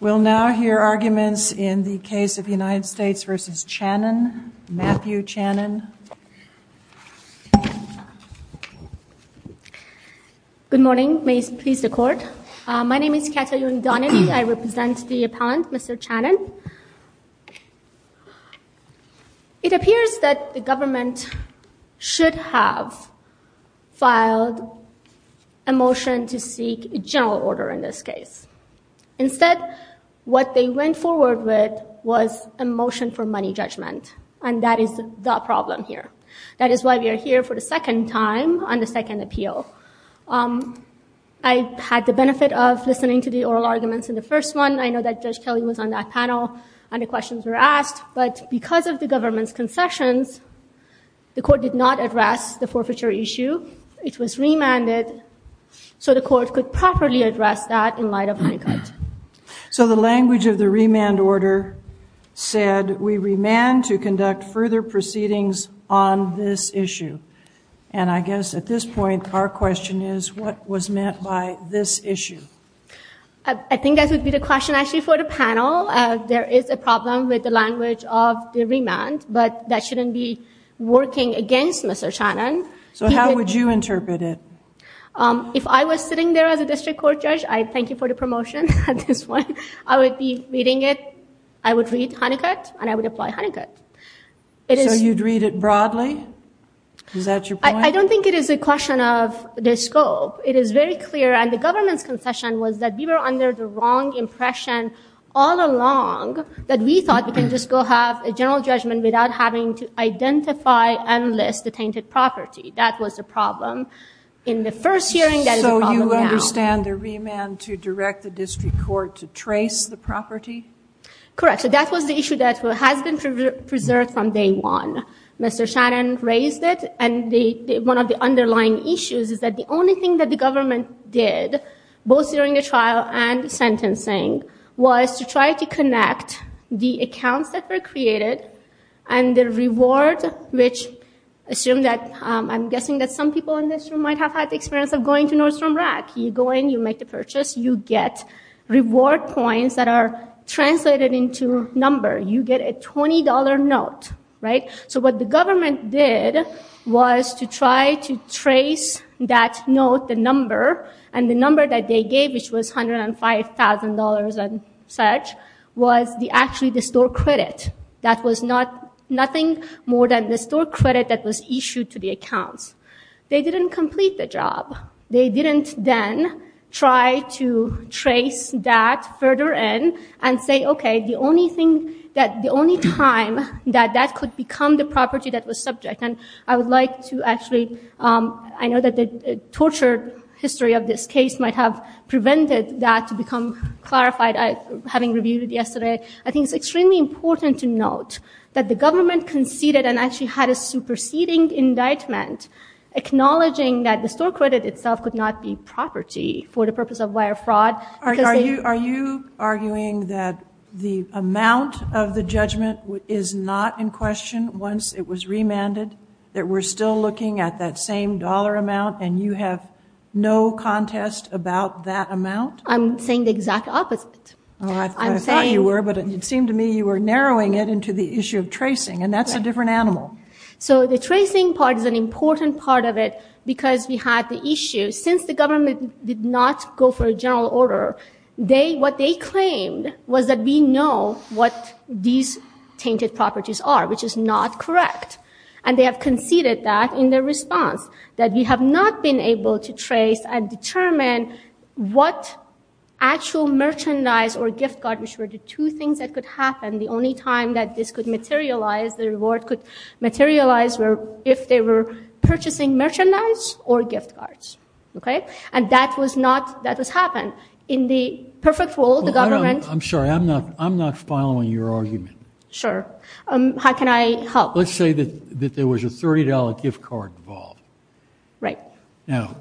We'll now hear arguments in the case of United States v. Channon. Matthew Channon. Good morning. May it please the court. My name is Kata Yuridani. I represent the appellant, Mr. Channon. It appears that the government should have filed a motion to seek a general order in this case. Instead, what they went forward with was a motion for money judgment, and that is the problem here. That is why we are here for the second time on the second appeal. I had the benefit of listening to the oral arguments in the first one. I know that Judge Kelly was on that panel, and the questions were asked. But because of the government's concessions, the court did not address the forfeiture issue. It was remanded, so the court could properly address that in light of my gut. So the language of the remand order said, we remand to conduct further proceedings on this issue. And I guess at this point, our question is, what was meant by this issue? I think that would be the question, actually, for the panel. There is a problem with the language of the remand, but that shouldn't be working against Mr. Channon. So how would you interpret it? If I was sitting there as a district court judge, I thank you for the promotion at this point. I would be reading it. I would read Hunnicutt, and I would apply Hunnicutt. So you'd read it broadly? Is that your point? I don't think it is a question of the scope. It is very clear, and the government's concession was that we were under the wrong impression all along that we thought we can just go have a general judgment without having to identify and list the tainted property. That was the problem in the first hearing. So you understand the remand to direct the district court to trace the property? Correct. So that was the issue that has been preserved from day one. Mr. Channon raised it, and one of the underlying issues is that the only thing that the government did, both during the trial and sentencing, was to try to connect the accounts that were created and the reward, which I'm guessing that some people in this room might have had the experience of going to Nordstrom Rack. You go in. You make the purchase. You get reward points that are translated into number. You get a $20 note. So what the government did was to try to trace that note, the number, and the number that they gave, which was $105,000 and such, was actually the store credit. That was nothing more than the store credit that was issued to the accounts. They didn't complete the job. They didn't then try to trace that further in and say, okay, the only time that that could become the property that was subject, and I would like to actually ‑‑ I know that the tortured history of this case might have prevented that to become clarified, having reviewed it yesterday. I think it's extremely important to note that the government conceded and actually had a superseding indictment acknowledging that the store credit itself could not be property for the purpose of wire fraud. Are you arguing that the amount of the judgment is not in question once it was remanded, that we're still looking at that same dollar amount and you have no contest about that amount? I'm saying the exact opposite. I thought you were, but it seemed to me you were narrowing it into the issue of tracing, and that's a different animal. So the tracing part is an important part of it because we had the issue, since the government did not go for a general order, what they claimed was that we know what these tainted properties are, which is not correct. And they have conceded that in their response, that we have not been able to trace and determine what actual merchandise or gift card, which were the two things that could happen, the only time that this could materialize, the reward could materialize, were if they were purchasing merchandise or gift cards. Okay? And that was not, that has happened. In the perfect world, the government- I'm sorry, I'm not following your argument. Sure. How can I help? Let's say that there was a $30 gift card involved. Right. Now,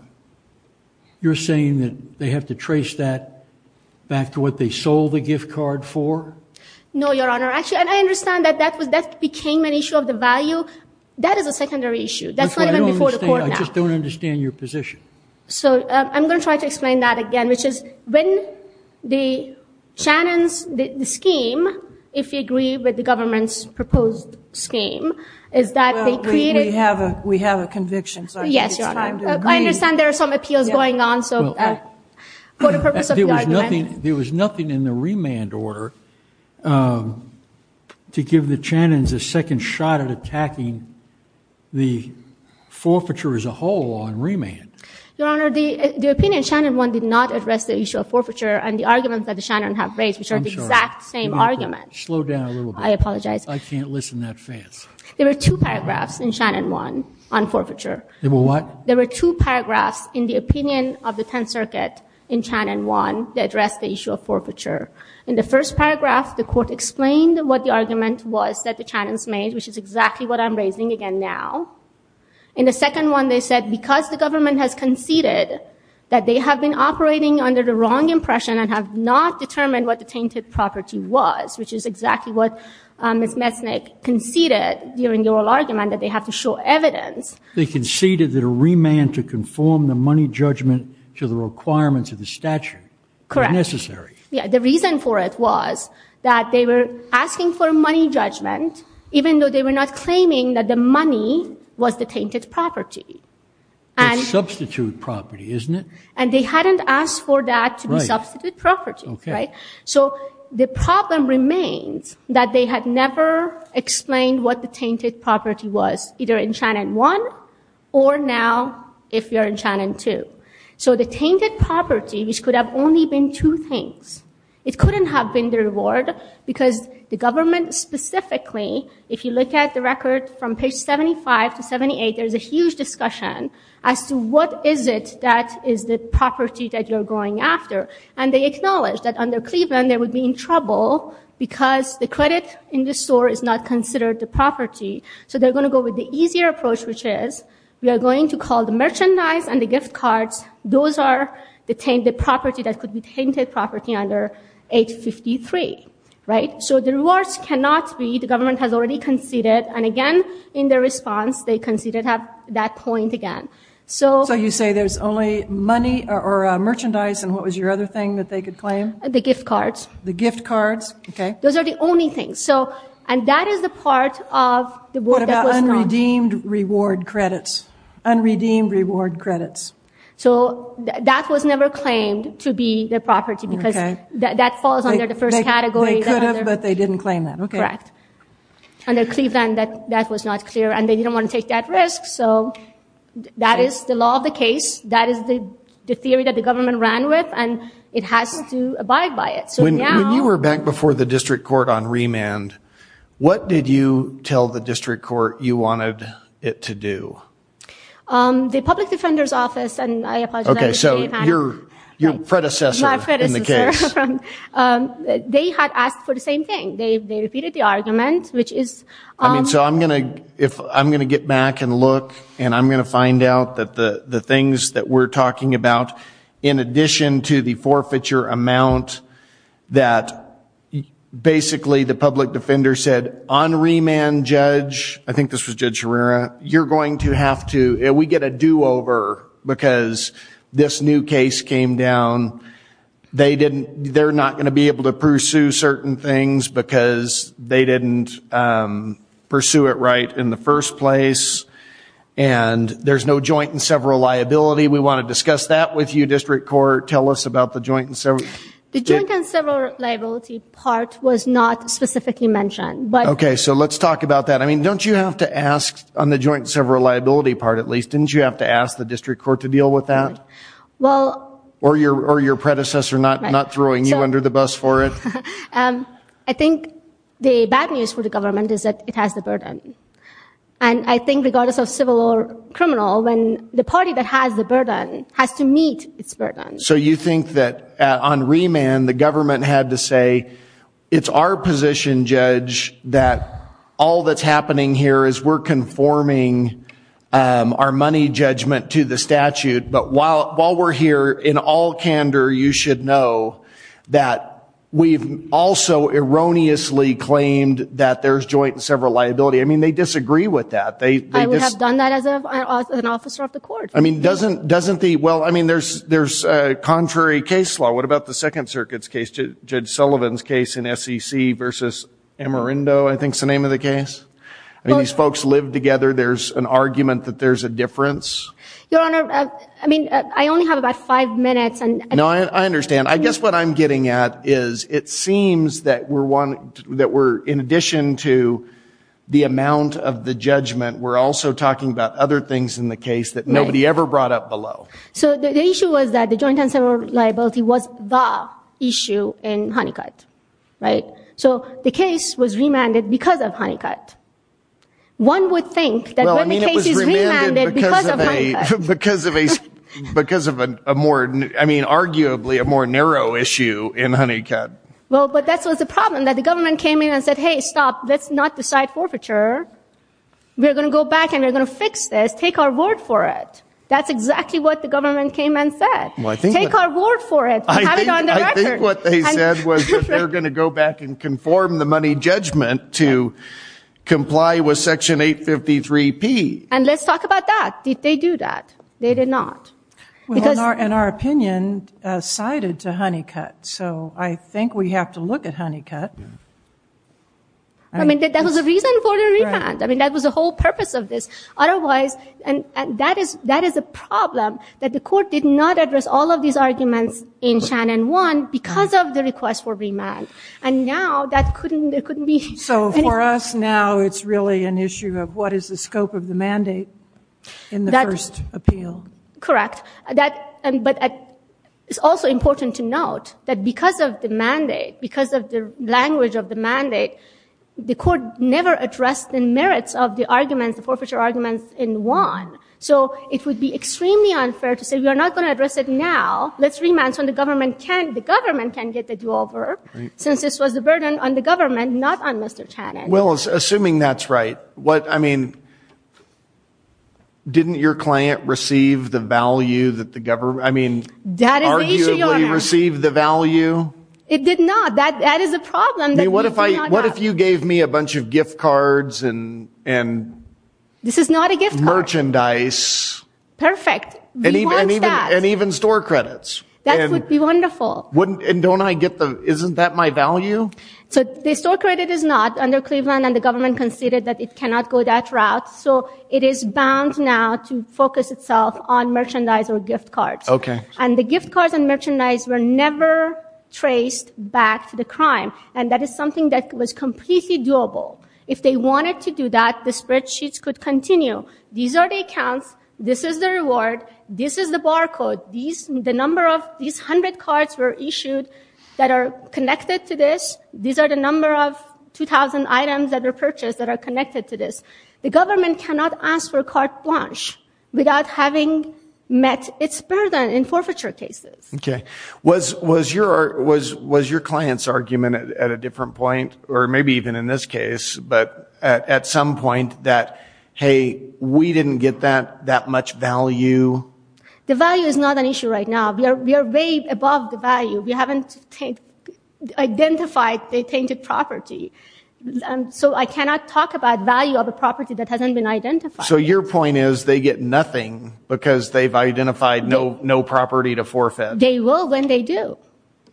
you're saying that they have to trace that back to what they sold the gift card for? No, Your Honor. Actually, and I understand that that became an issue of the value. That is a secondary issue. That's not even before the court now. I just don't understand your position. So I'm going to try to explain that again, which is when the Shannon's scheme, if you agree with the government's proposed scheme, is that they created- Well, we have a conviction, so I think it's time to agree. Yes, Your Honor. I understand there are some appeals going on, so for the purpose of the argument- There was nothing in the remand order to give the Shannon's a second shot at attacking the forfeiture as a whole on remand. Your Honor, the opinion in Shannon 1 did not address the issue of forfeiture and the arguments that the Shannon's have raised, which are the exact same arguments. Slow down a little bit. I apologize. I can't listen that fast. There were two paragraphs in Shannon 1 on forfeiture. There were what? There were two paragraphs in the opinion of the Tenth Circuit in Shannon 1 that addressed the issue of forfeiture. In the first paragraph, the court explained what the argument was that the Shannon's made, which is exactly what I'm raising again now. In the second one, they said because the government has conceded that they have been operating under the wrong impression and have not determined what the tainted property was, which is exactly what Ms. Mesnick conceded during the oral argument, that they have to show evidence- Remand to conform the money judgment to the requirements of the statute. Correct. Necessary. The reason for it was that they were asking for money judgment, even though they were not claiming that the money was the tainted property. Substitute property, isn't it? And they hadn't asked for that to be substitute property. So the problem remains that they had never explained what the tainted property was, either in Shannon 1 or now if you're in Shannon 2. So the tainted property, which could have only been two things, it couldn't have been the reward because the government specifically, if you look at the record from page 75 to 78, there's a huge discussion as to what is it that is the property that you're going after. And they acknowledge that under Cleveland, they would be in trouble because the credit in the store is not considered the property. So they're going to go with the easier approach, which is, we are going to call the merchandise and the gift cards, those are the property that could be tainted property under 853. So the rewards cannot be, the government has already conceded, and again, in their response, they conceded that point again. So you say there's only money or merchandise, and what was your other thing that they could claim? The gift cards. The gift cards, okay. Those are the only things. And that is the part of the work that was done. What about unredeemed reward credits? Unredeemed reward credits. So that was never claimed to be the property because that falls under the first category. They could have, but they didn't claim that. Correct. Under Cleveland, that was not clear, and they didn't want to take that risk. So that is the law of the case. That is the theory that the government ran with, and it has to abide by it. When you were back before the district court on remand, what did you tell the district court you wanted it to do? The public defender's office, and I apologize. Okay, so your predecessor in the case. My predecessor. They had asked for the same thing. They repeated the argument, which is... I mean, so I'm going to get back and look, and I'm going to find out that the things that we're talking about, in addition to the forfeiture amount that basically the public defender said, on remand, Judge... I think this was Judge Herrera. You're going to have to... We get a do-over because this new case came down. They're not going to be able to pursue certain things because they didn't pursue it right in the first place, and there's no joint and several liability. We want to discuss that with you, district court. Tell us about the joint and several... The joint and several liability part was not specifically mentioned, but... Okay, so let's talk about that. I mean, don't you have to ask on the joint and several liability part, at least? Didn't you have to ask the district court to deal with that? Well... Or your predecessor not throwing you under the bus for it? I think the bad news for the government is that it has the burden, and I think regardless of civil or criminal, the party that has the burden has to meet its burden. So you think that on remand the government had to say, it's our position, Judge, that all that's happening here is we're conforming our money judgment to the statute, but while we're here, in all candor you should know that we've also erroneously claimed that there's joint and several liability. I mean, they disagree with that. I would have done that as an officer of the court. I mean, doesn't the... Well, I mean, there's contrary case law. What about the Second Circuit's case, Judge Sullivan's case in SEC versus Amarindo, I think is the name of the case? I mean, these folks live together. There's an argument that there's a difference. Your Honor, I mean, I only have about five minutes... No, I understand. I guess what I'm getting at is it seems that we're in addition to the amount of the judgment, we're also talking about other things in the case that nobody ever brought up below. So the issue was that the joint and several liability was the issue in Honeycutt, right? So the case was remanded because of Honeycutt. One would think that when the case is remanded because of Honeycutt. Well, I mean, it was remanded because of a more, I mean, arguably a more narrow issue in Honeycutt. Well, but that was the problem, that the government came in and said, Hey, stop, let's not decide forfeiture. We're going to go back and we're going to fix this. Take our word for it. That's exactly what the government came and said. Take our word for it. Have it on the record. I think what they said was that they're going to go back and conform the money judgment to comply with Section 853P. And let's talk about that. Did they do that? They did not. In our opinion, cited to Honeycutt. So I think we have to look at Honeycutt. I mean, that was the reason for the remand. I mean, that was the whole purpose of this. Otherwise, that is a problem, that the court did not address all of these arguments in Shannon 1 because of the request for remand. And now that couldn't be. So for us now, it's really an issue of what is the scope of the mandate in the first appeal. Correct. But it's also important to note that because of the mandate, because of the language of the mandate, the court never addressed the merits of the arguments, the forfeiture arguments in 1. So it would be extremely unfair to say we are not going to address it now. Let's remand so the government can get the do-over, since this was a burden on the government, not on Mr. Channon. Well, assuming that's right. What, I mean, didn't your client receive the value that the government, I mean, arguably receive the value? It did not. That is a problem. What if you gave me a bunch of gift cards and merchandise? This is not a gift card. Perfect. We want that. And even store credits. That would be wonderful. And don't I get the, isn't that my value? So the store credit is not under Cleveland, and the government conceded that it cannot go that route. So it is bound now to focus itself on merchandise or gift cards. Okay. And the gift cards and merchandise were never traced back to the crime, and that is something that was completely doable. If they wanted to do that, the spreadsheets could continue. These are the accounts. This is the reward. This is the bar code. These hundred cards were issued that are connected to this. These are the number of 2,000 items that were purchased that are connected to this. The government cannot ask for carte blanche without having met its burden in forfeiture cases. Okay. Was your client's argument at a different point, or maybe even in this case, but at some point that, hey, we didn't get that much value? The value is not an issue right now. We are way above the value. We haven't identified the tainted property. So I cannot talk about value of a property that hasn't been identified. So your point is they get nothing because they've identified no property to forfeit. They will when they do.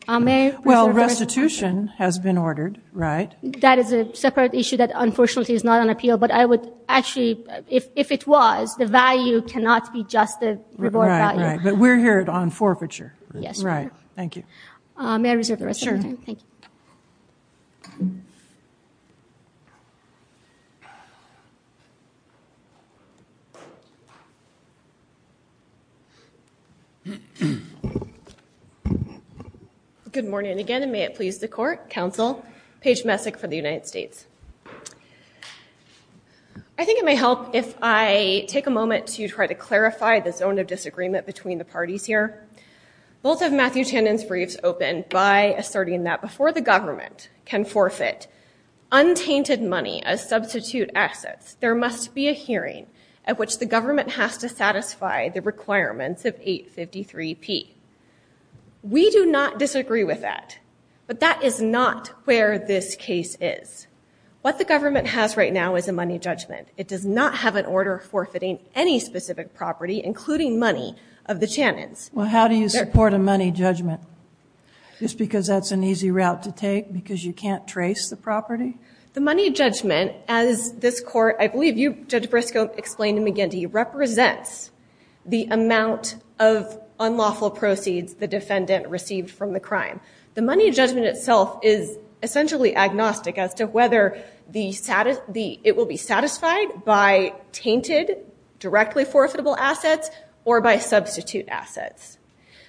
Well, restitution has been ordered, right? That is a separate issue that, unfortunately, is not on appeal. But I would actually, if it was, the value cannot be just the reward value. Right, right. But we're here on forfeiture. Yes, we are. Right. Thank you. May I reserve the rest of my time? Thank you. Good morning again, and may it please the court, counsel Paige Messick for the United States. I think it may help if I take a moment to try to clarify the zone of disagreement between the parties here. Both of Matthew Tannen's briefs open by asserting that before the government can forfeit untainted money as substitute assets, there must be a hearing at which the government has to satisfy the requirements of 853P. We do not disagree with that. But that is not where this case is. What the government has right now is a money judgment. It does not have an order forfeiting any specific property, including money, of the Tannens. Well, how do you support a money judgment? Just because that's an easy route to take because you can't trace the property? The money judgment, as this court, I believe you, Judge Briscoe, explained to McGindy, represents the amount of unlawful proceeds the defendant received from the crime. The money judgment itself is essentially agnostic as to whether it will be satisfied by tainted, directly forfeitable assets, or by substitute assets.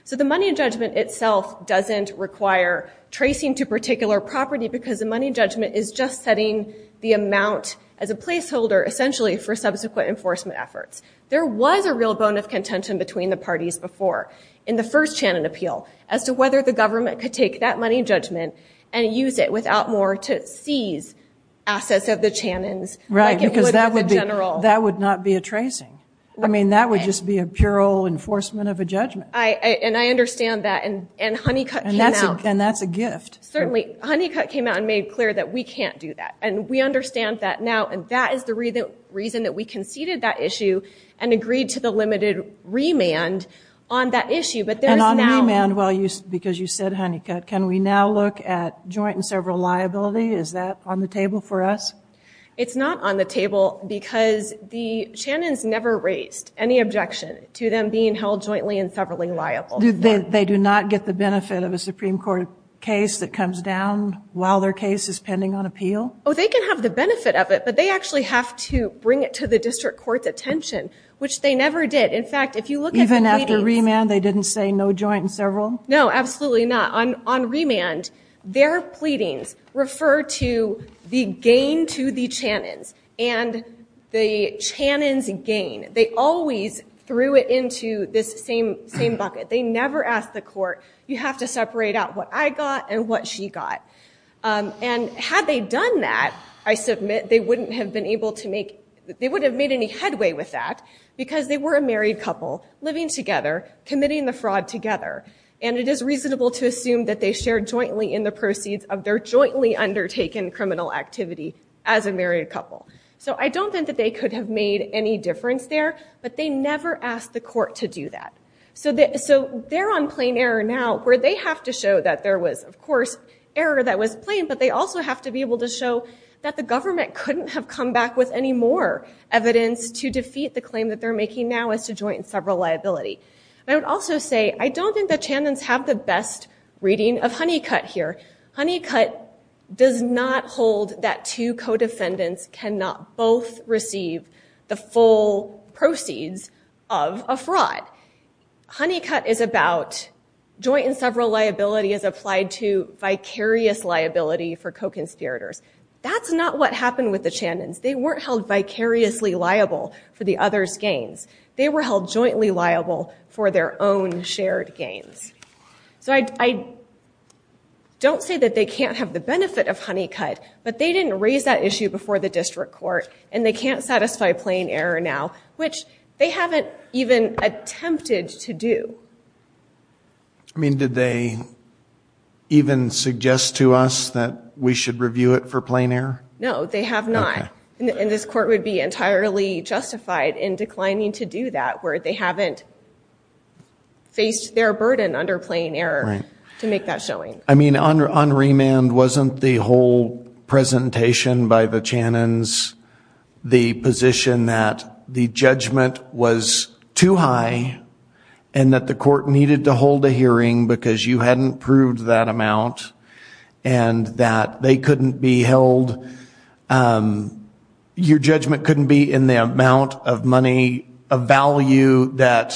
So the money judgment itself doesn't require tracing to particular property because the money judgment is just setting the amount as a placeholder, essentially, for subsequent enforcement efforts. There was a real bone of contention between the parties before in the first Tannen appeal as to whether the government could take that money judgment and use it without more to seize assets of the Tannens. Right, because that would not be a tracing. I mean, that would just be a pure enforcement of a judgment. And I understand that. And Honeycutt came out. And that's a gift. Certainly. Honeycutt came out and made clear that we can't do that. And we understand that now. And that is the reason that we conceded that issue and agreed to the limited remand on that issue. And on remand, because you said Honeycutt, can we now look at joint and several liability? Is that on the table for us? It's not on the table because the Tannens never raised any objection to them being held jointly and severally liable. They do not get the benefit of a Supreme Court case that comes down while their case is pending on appeal? Oh, they can have the benefit of it. But they actually have to bring it to the district court's attention, which they never did. In fact, if you look at the pleadings. Even after remand, they didn't say no joint and several? No, absolutely not. On remand, their pleadings refer to the gain to the Tannens and the Tannens' gain. They always threw it into this same bucket. They never asked the court, you have to separate out what I got and what she got. And had they done that, I submit they wouldn't have been able to make, they wouldn't have made any headway with that, because they were a married couple living together, committing the fraud together. And it is reasonable to assume that they shared jointly in the proceeds of their jointly undertaken criminal activity as a married couple. So I don't think that they could have made any difference there, but they never asked the court to do that. So they're on plain error now, where they have to show that there was, of course, error that was plain, but they also have to be able to show that the government couldn't have come back with any more evidence to defeat the claim that they're making now as to joint and several liability. And I would also say, I don't think the Tannens have the best reading of Honeycutt here. Honeycutt does not hold that two co-defendants cannot both receive the full proceeds of a fraud. Honeycutt is about joint and several liability as applied to vicarious liability for co-conspirators. That's not what happened with the Tannens. They weren't held vicariously liable for the others' gains. They were held jointly liable for their own shared gains. So I don't say that they can't have the benefit of Honeycutt, but they didn't raise that issue before the district court, and they can't satisfy plain error now, which they haven't even attempted to do. I mean, did they even suggest to us that we should review it for plain error? No, they have not, and this court would be entirely justified in declining to do that where they haven't faced their burden under plain error to make that showing. I mean, on remand, wasn't the whole presentation by the Tannens the position that the judgment was too high and that the court needed to hold a hearing because you hadn't proved that amount and that they couldn't be held? Your judgment couldn't be in the amount of money, a value that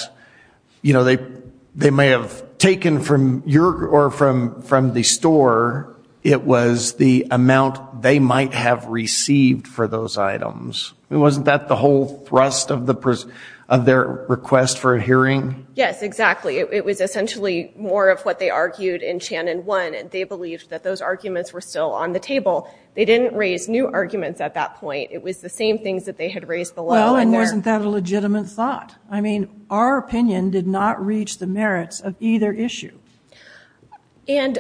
they may have taken from your or from the store. It was the amount they might have received for those items. Wasn't that the whole thrust of their request for a hearing? Yes, exactly. It was essentially more of what they argued in Channon 1, and they believed that those arguments were still on the table. They didn't raise new arguments at that point. It was the same things that they had raised below. Well, and wasn't that a legitimate thought? I mean, our opinion did not reach the merits of either issue.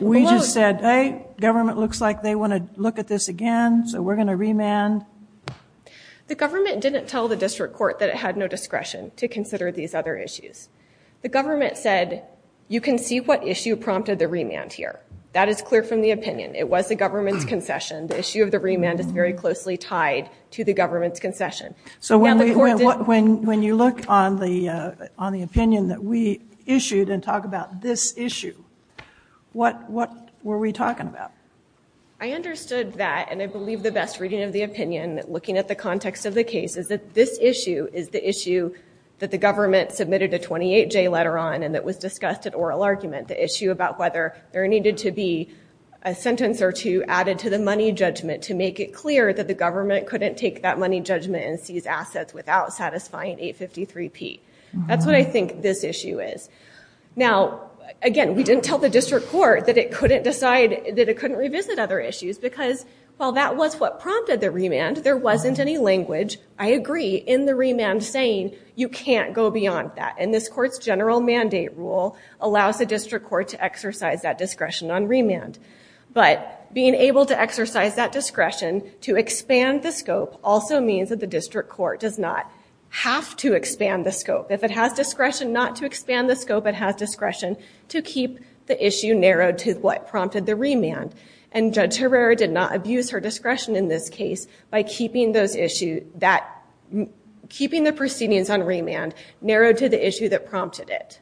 We just said, hey, government looks like they want to look at this again, so we're going to remand. The government didn't tell the district court that it had no discretion to consider these other issues. The government said, you can see what issue prompted the remand here. That is clear from the opinion. It was the government's concession. So when you look on the opinion that we issued and talk about this issue, what were we talking about? I understood that, and I believe the best reading of the opinion, looking at the context of the case, is that this issue is the issue that the government submitted a 28-J letter on and that was discussed at oral argument, the issue about whether there needed to be a sentence or two added to the money judgment to make it clear that the government couldn't take that money judgment and seize assets without satisfying 853P. That's what I think this issue is. Now, again, we didn't tell the district court that it couldn't revisit other issues because while that was what prompted the remand, there wasn't any language, I agree, in the remand saying you can't go beyond that. And this court's general mandate rule allows the district court to exercise that discretion on remand. But being able to exercise that discretion to expand the scope also means that the district court does not have to expand the scope. If it has discretion not to expand the scope, it has discretion to keep the issue narrowed to what prompted the remand. And Judge Herrera did not abuse her discretion in this case by keeping those issues, keeping the proceedings on remand, narrowed to the issue that prompted it.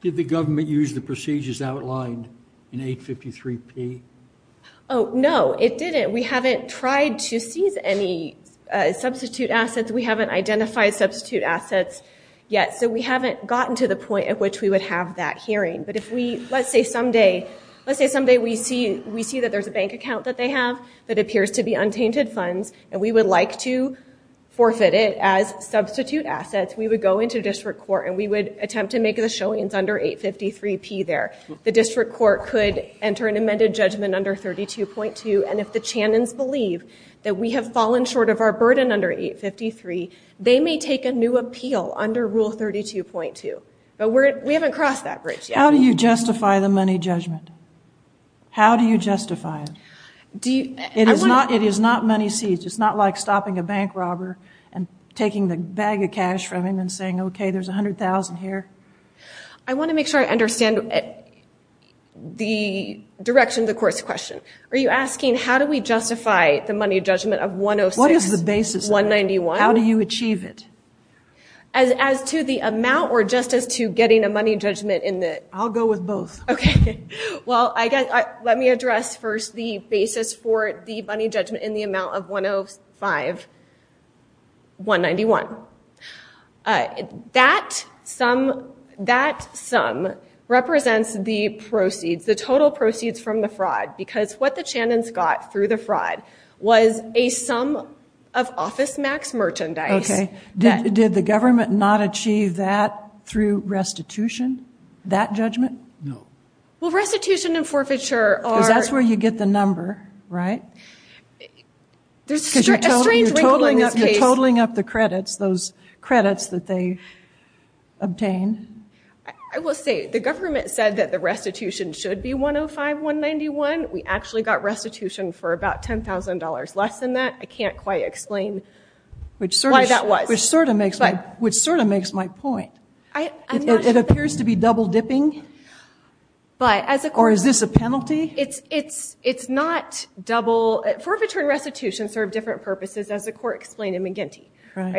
Did the government use the procedures outlined in 853P? Oh, no, it didn't. We haven't tried to seize any substitute assets. We haven't identified substitute assets yet. So we haven't gotten to the point at which we would have that hearing. But if we, let's say someday, let's say someday we see that there's a bank account that they have that appears to be untainted funds and we would like to forfeit it as substitute assets, we would go into district court and we would attempt to make the showings under 853P there. The district court could enter an amended judgment under 32.2. And if the Channons believe that we have fallen short of our burden under 853, they may take a new appeal under Rule 32.2. But we haven't crossed that bridge yet. How do you justify the money judgment? How do you justify it? It is not money seized. It's not like stopping a bank robber and taking the bag of cash from him and saying, okay, there's $100,000 here. I want to make sure I understand the direction of the court's question. Are you asking how do we justify the money judgment of 106-191? What is the basis of it? How do you achieve it? As to the amount or just as to getting a money judgment in the? I'll go with both. Okay. Well, let me address first the basis for the money judgment in the amount of 105-191. That sum represents the proceeds, the total proceeds from the fraud. Because what the Channons got through the fraud was a sum of OfficeMax merchandise. Okay. Did the government not achieve that through restitution, that judgment? No. Well, restitution and forfeiture are. Because that's where you get the number, right? There's a strange link in this case. Because you're totaling up the credits, those credits that they obtained. I will say the government said that the restitution should be 105-191. We actually got restitution for about $10,000 less than that. I can't quite explain why that was. Which sort of makes my point. It appears to be double dipping? Or is this a penalty? It's not double. Forfeiture and restitution serve different purposes, as the court explained in McGinty.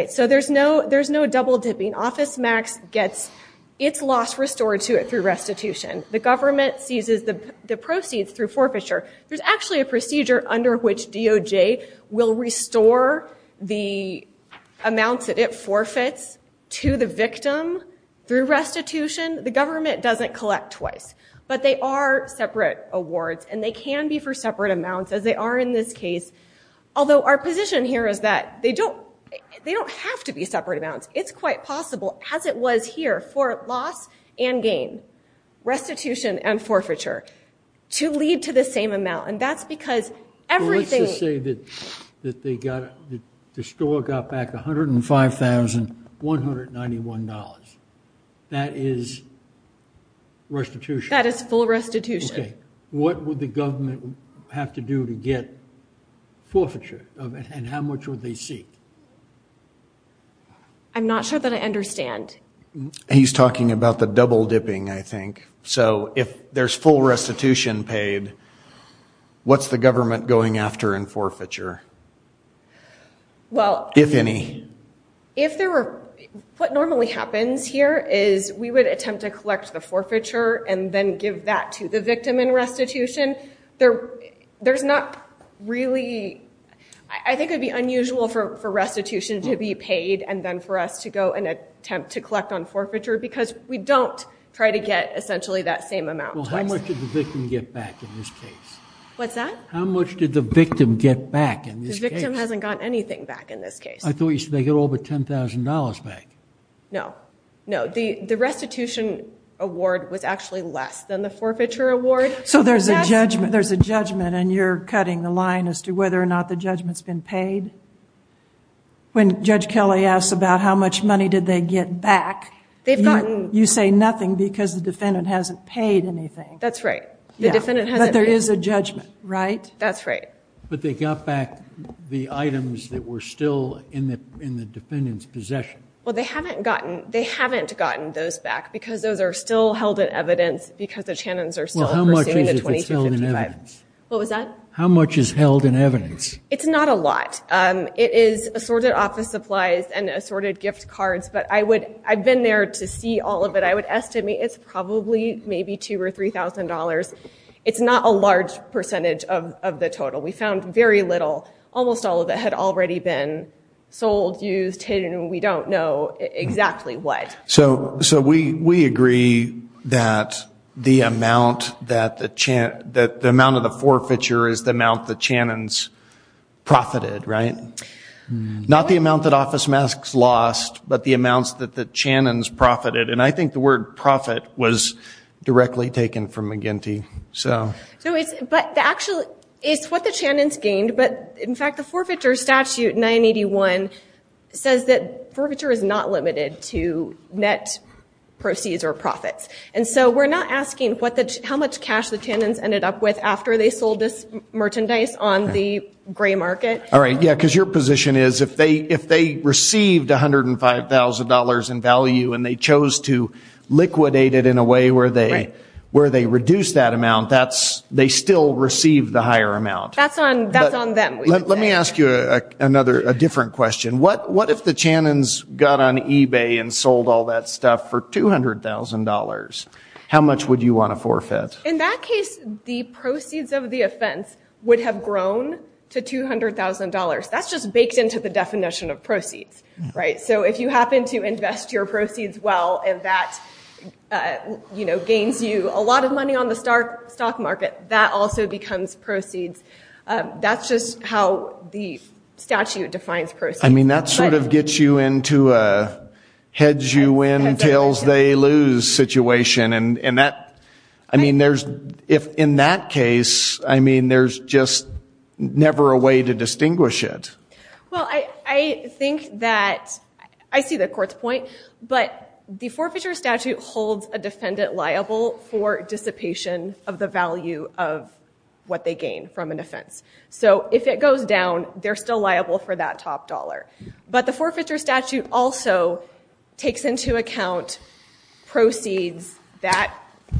So there's no double dipping. OfficeMax gets its loss restored to it through restitution. The government seizes the proceeds through forfeiture. There's actually a procedure under which DOJ will restore the amounts that it The government doesn't collect twice. But they are separate awards. And they can be for separate amounts, as they are in this case. Although our position here is that they don't have to be separate amounts. It's quite possible, as it was here, for loss and gain. Restitution and forfeiture. To lead to the same amount. And that's because everything. Let's just say that the store got back $105,191. That is restitution. That is full restitution. What would the government have to do to get forfeiture? And how much would they seek? I'm not sure that I understand. He's talking about the double dipping, I think. So if there's full restitution paid, what's the government going after in forfeiture? If any. If there were. What normally happens here is we would attempt to collect the forfeiture. And then give that to the victim in restitution. There's not really. I think it would be unusual for restitution to be paid. And then for us to go and attempt to collect on forfeiture. Because we don't try to get, essentially, that same amount. Well, how much did the victim get back in this case? What's that? How much did the victim get back in this case? The victim hasn't gotten anything back in this case. I thought you said they got over $10,000 back. No. No. The restitution award was actually less than the forfeiture award. So there's a judgment. And you're cutting the line as to whether or not the judgment's been paid. When Judge Kelly asks about how much money did they get back. They've gotten. You say nothing because the defendant hasn't paid anything. That's right. But there is a judgment, right? That's right. But they got back the items that were still in the defendant's possession. Well, they haven't gotten those back. Because those are still held in evidence. Because the Channons are still pursuing the 2255. How much is held in evidence? It's not a lot. It is assorted office supplies and assorted gift cards. But I've been there to see all of it. I would estimate it's probably maybe $2,000 or $3,000. It's not a large percentage of the total. We found very little. Almost all of it had already been sold, used, hidden, and we don't know exactly what. So we agree that the amount of the forfeiture is the amount that Channons profited, right? Not the amount that Office Masks lost, but the amounts that the Channons profited. And I think the word profit was directly taken from McGinty. So it's what the Channons gained. But, in fact, the forfeiture statute 981 says that forfeiture is not limited to net proceeds or profits. And so we're not asking how much cash the Channons ended up with after they sold this merchandise on the gray market. All right, yeah, because your position is if they received $105,000 in value and they chose to liquidate it in a way where they reduced that amount, they still received the higher amount. That's on them. Let me ask you a different question. What if the Channons got on eBay and sold all that stuff for $200,000? How much would you want to forfeit? In that case, the proceeds of the offense would have grown to $200,000. That's just baked into the definition of proceeds, right? So if you happen to invest your proceeds well and that, you know, gains you a lot of money on the stock market, that also becomes proceeds. That's just how the statute defines proceeds. I mean, that sort of gets you into a hedge you win, tails they lose situation. I mean, if in that case, I mean, there's just never a way to distinguish it. Well, I think that I see the court's point, but the forfeiture statute holds a defendant liable for dissipation of the value of what they gain from an offense. So if it goes down, they're still liable for that top dollar. But the forfeiture statute also takes into account proceeds that,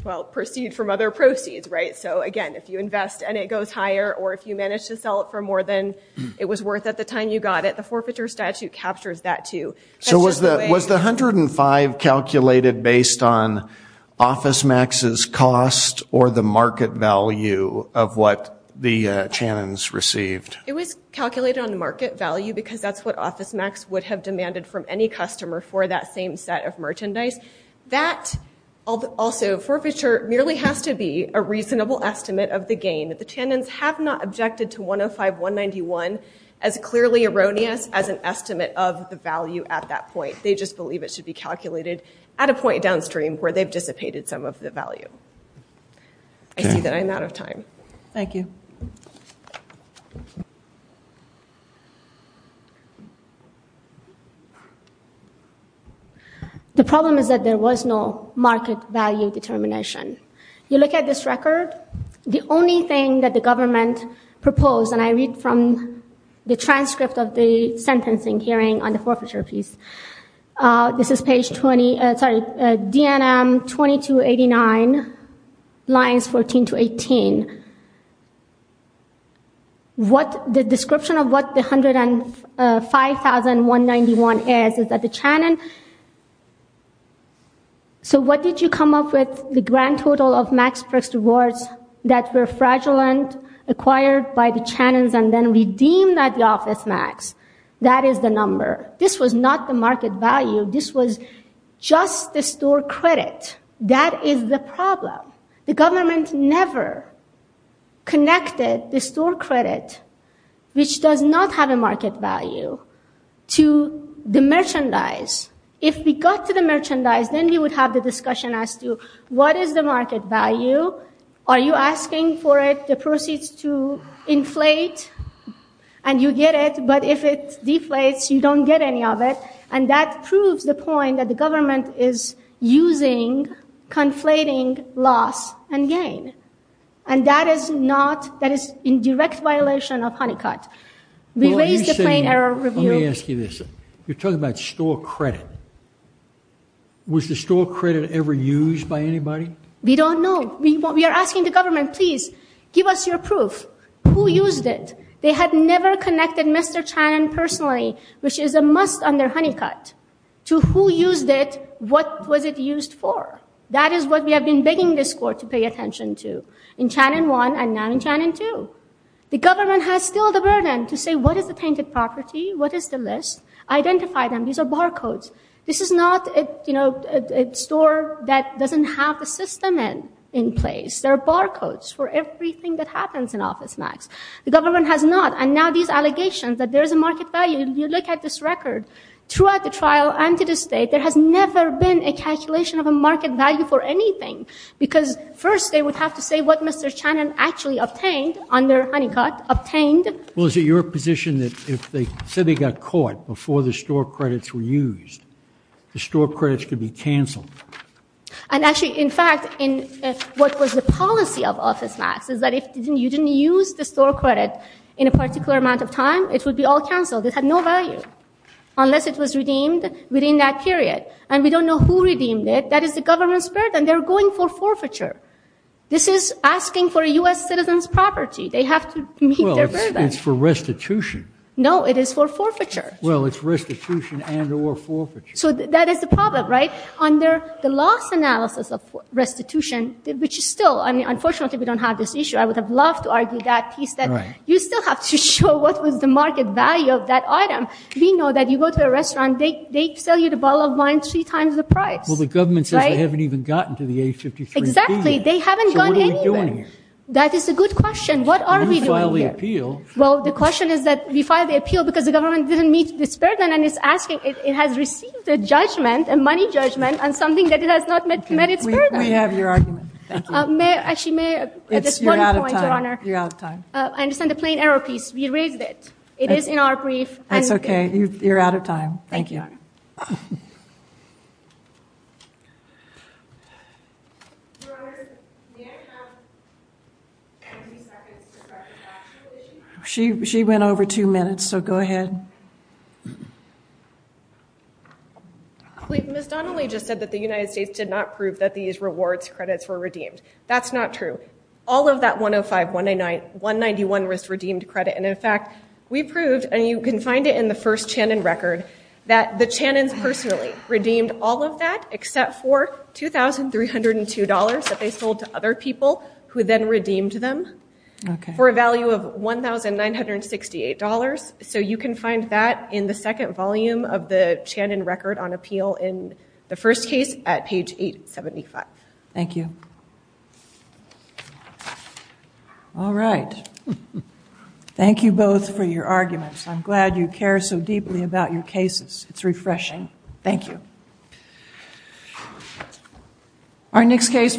well, proceed from other proceeds, right? So again, if you invest and it goes higher or if you manage to sell it for more than it was worth at the time you got it, the forfeiture statute captures that too. So was the $105,000 calculated based on OfficeMax's cost or the market value of what the Channons received? It was calculated on the market value because that's what OfficeMax would have demanded from any customer for that same set of merchandise. That also forfeiture merely has to be a reasonable estimate of the gain. The Channons have not objected to $105,191 as clearly erroneous as an estimate of the value at that point. They just believe it should be calculated at a point downstream where they've dissipated some of the value. I see that I'm out of time. Thank you. The problem is that there was no market value determination. You look at this record, the only thing that the government proposed, and I read from the transcript of the sentencing hearing on the forfeiture piece. This is page 20, sorry, DNM 2289, lines 14 to 18. What the description of what the $105,191 is, is that the Channon. So what did you come up with? The grand total of Max Brooks rewards that were fraudulent, acquired by the Channons, and then redeemed at the OfficeMax. That is the number. This was not the market value. This was just the store credit. That is the problem. The government never connected the store credit, which does not have a market value, to the merchandise. If we got to the merchandise, then we would have the discussion as to what is the market value, are you asking for it, the proceeds to inflate, and you get it. But if it deflates, you don't get any of it, and that proves the point that the government is using conflating loss and gain, and that is in direct violation of Honeycutt. Let me ask you this. You're talking about store credit. Was the store credit ever used by anybody? We don't know. We are asking the government, please give us your proof. Who used it? They had never connected Mr. Channon personally, which is a must under Honeycutt, to who used it, what was it used for. That is what we have been begging this court to pay attention to in Channon 1 and now in Channon 2. The government has still the burden to say what is the tainted property, what is the list, identify them. These are barcodes. This is not a store that doesn't have the system in place. There are barcodes for everything that happens in OfficeMax. The government has not, and now these allegations that there is a market value. You look at this record. Throughout the trial and to this day, there has never been a calculation of a market value for anything because first they would have to say what Mr. Channon actually obtained under Honeycutt, obtained. Well, is it your position that if the city got caught before the store credits were used, the store credits could be canceled? And actually, in fact, what was the policy of OfficeMax is that if you didn't use the store credit in a particular amount of time, it would be all canceled. It had no value unless it was redeemed within that period, and we don't know who redeemed it. That is the government's burden. They're going for forfeiture. This is asking for a U.S. citizen's property. They have to meet their burden. Well, it's for restitution. No, it is for forfeiture. Well, it's restitution and or forfeiture. So that is the problem, right? Under the loss analysis of restitution, which is still, I mean, unfortunately we don't have this issue. I would have loved to argue that piece that you still have to show what was the market value of that item. We know that you go to a restaurant, they sell you the bottle of wine three times the price. Well, the government says they haven't even gotten to the A53B yet. Exactly. They haven't gone anywhere. So what are we doing here? That is a good question. What are we doing here? You filed the appeal. Well, the question is that we filed the appeal because the government didn't meet this burden and it's asking, it has received a judgment, a money judgment on something that it has not met its burden. We have your argument. Thank you. Actually, may I add just one point, Your Honor? You're out of time. You're out of time. I understand the plain error piece. We raised it. It is in our brief. That's okay. You're out of time. Thank you. Your Honor, may I have 20 seconds to correct the factual issue? She went over two minutes, so go ahead. Ms. Donnelly just said that the United States did not prove that these rewards credits were redeemed. That's not true. All of that 105-191 was redeemed credit, and in fact, we proved, and you can find it in the first Channon record, that the Channons personally redeemed all of that except for $2,302 that they sold to other people who then redeemed them for a value of $1,968. You can find that in the second volume of the Channon record on appeal in the first case at page 875. Thank you. All right. Thank you both for your arguments. I'm glad you care so deeply about your cases. It's refreshing. Thank you. Our next case.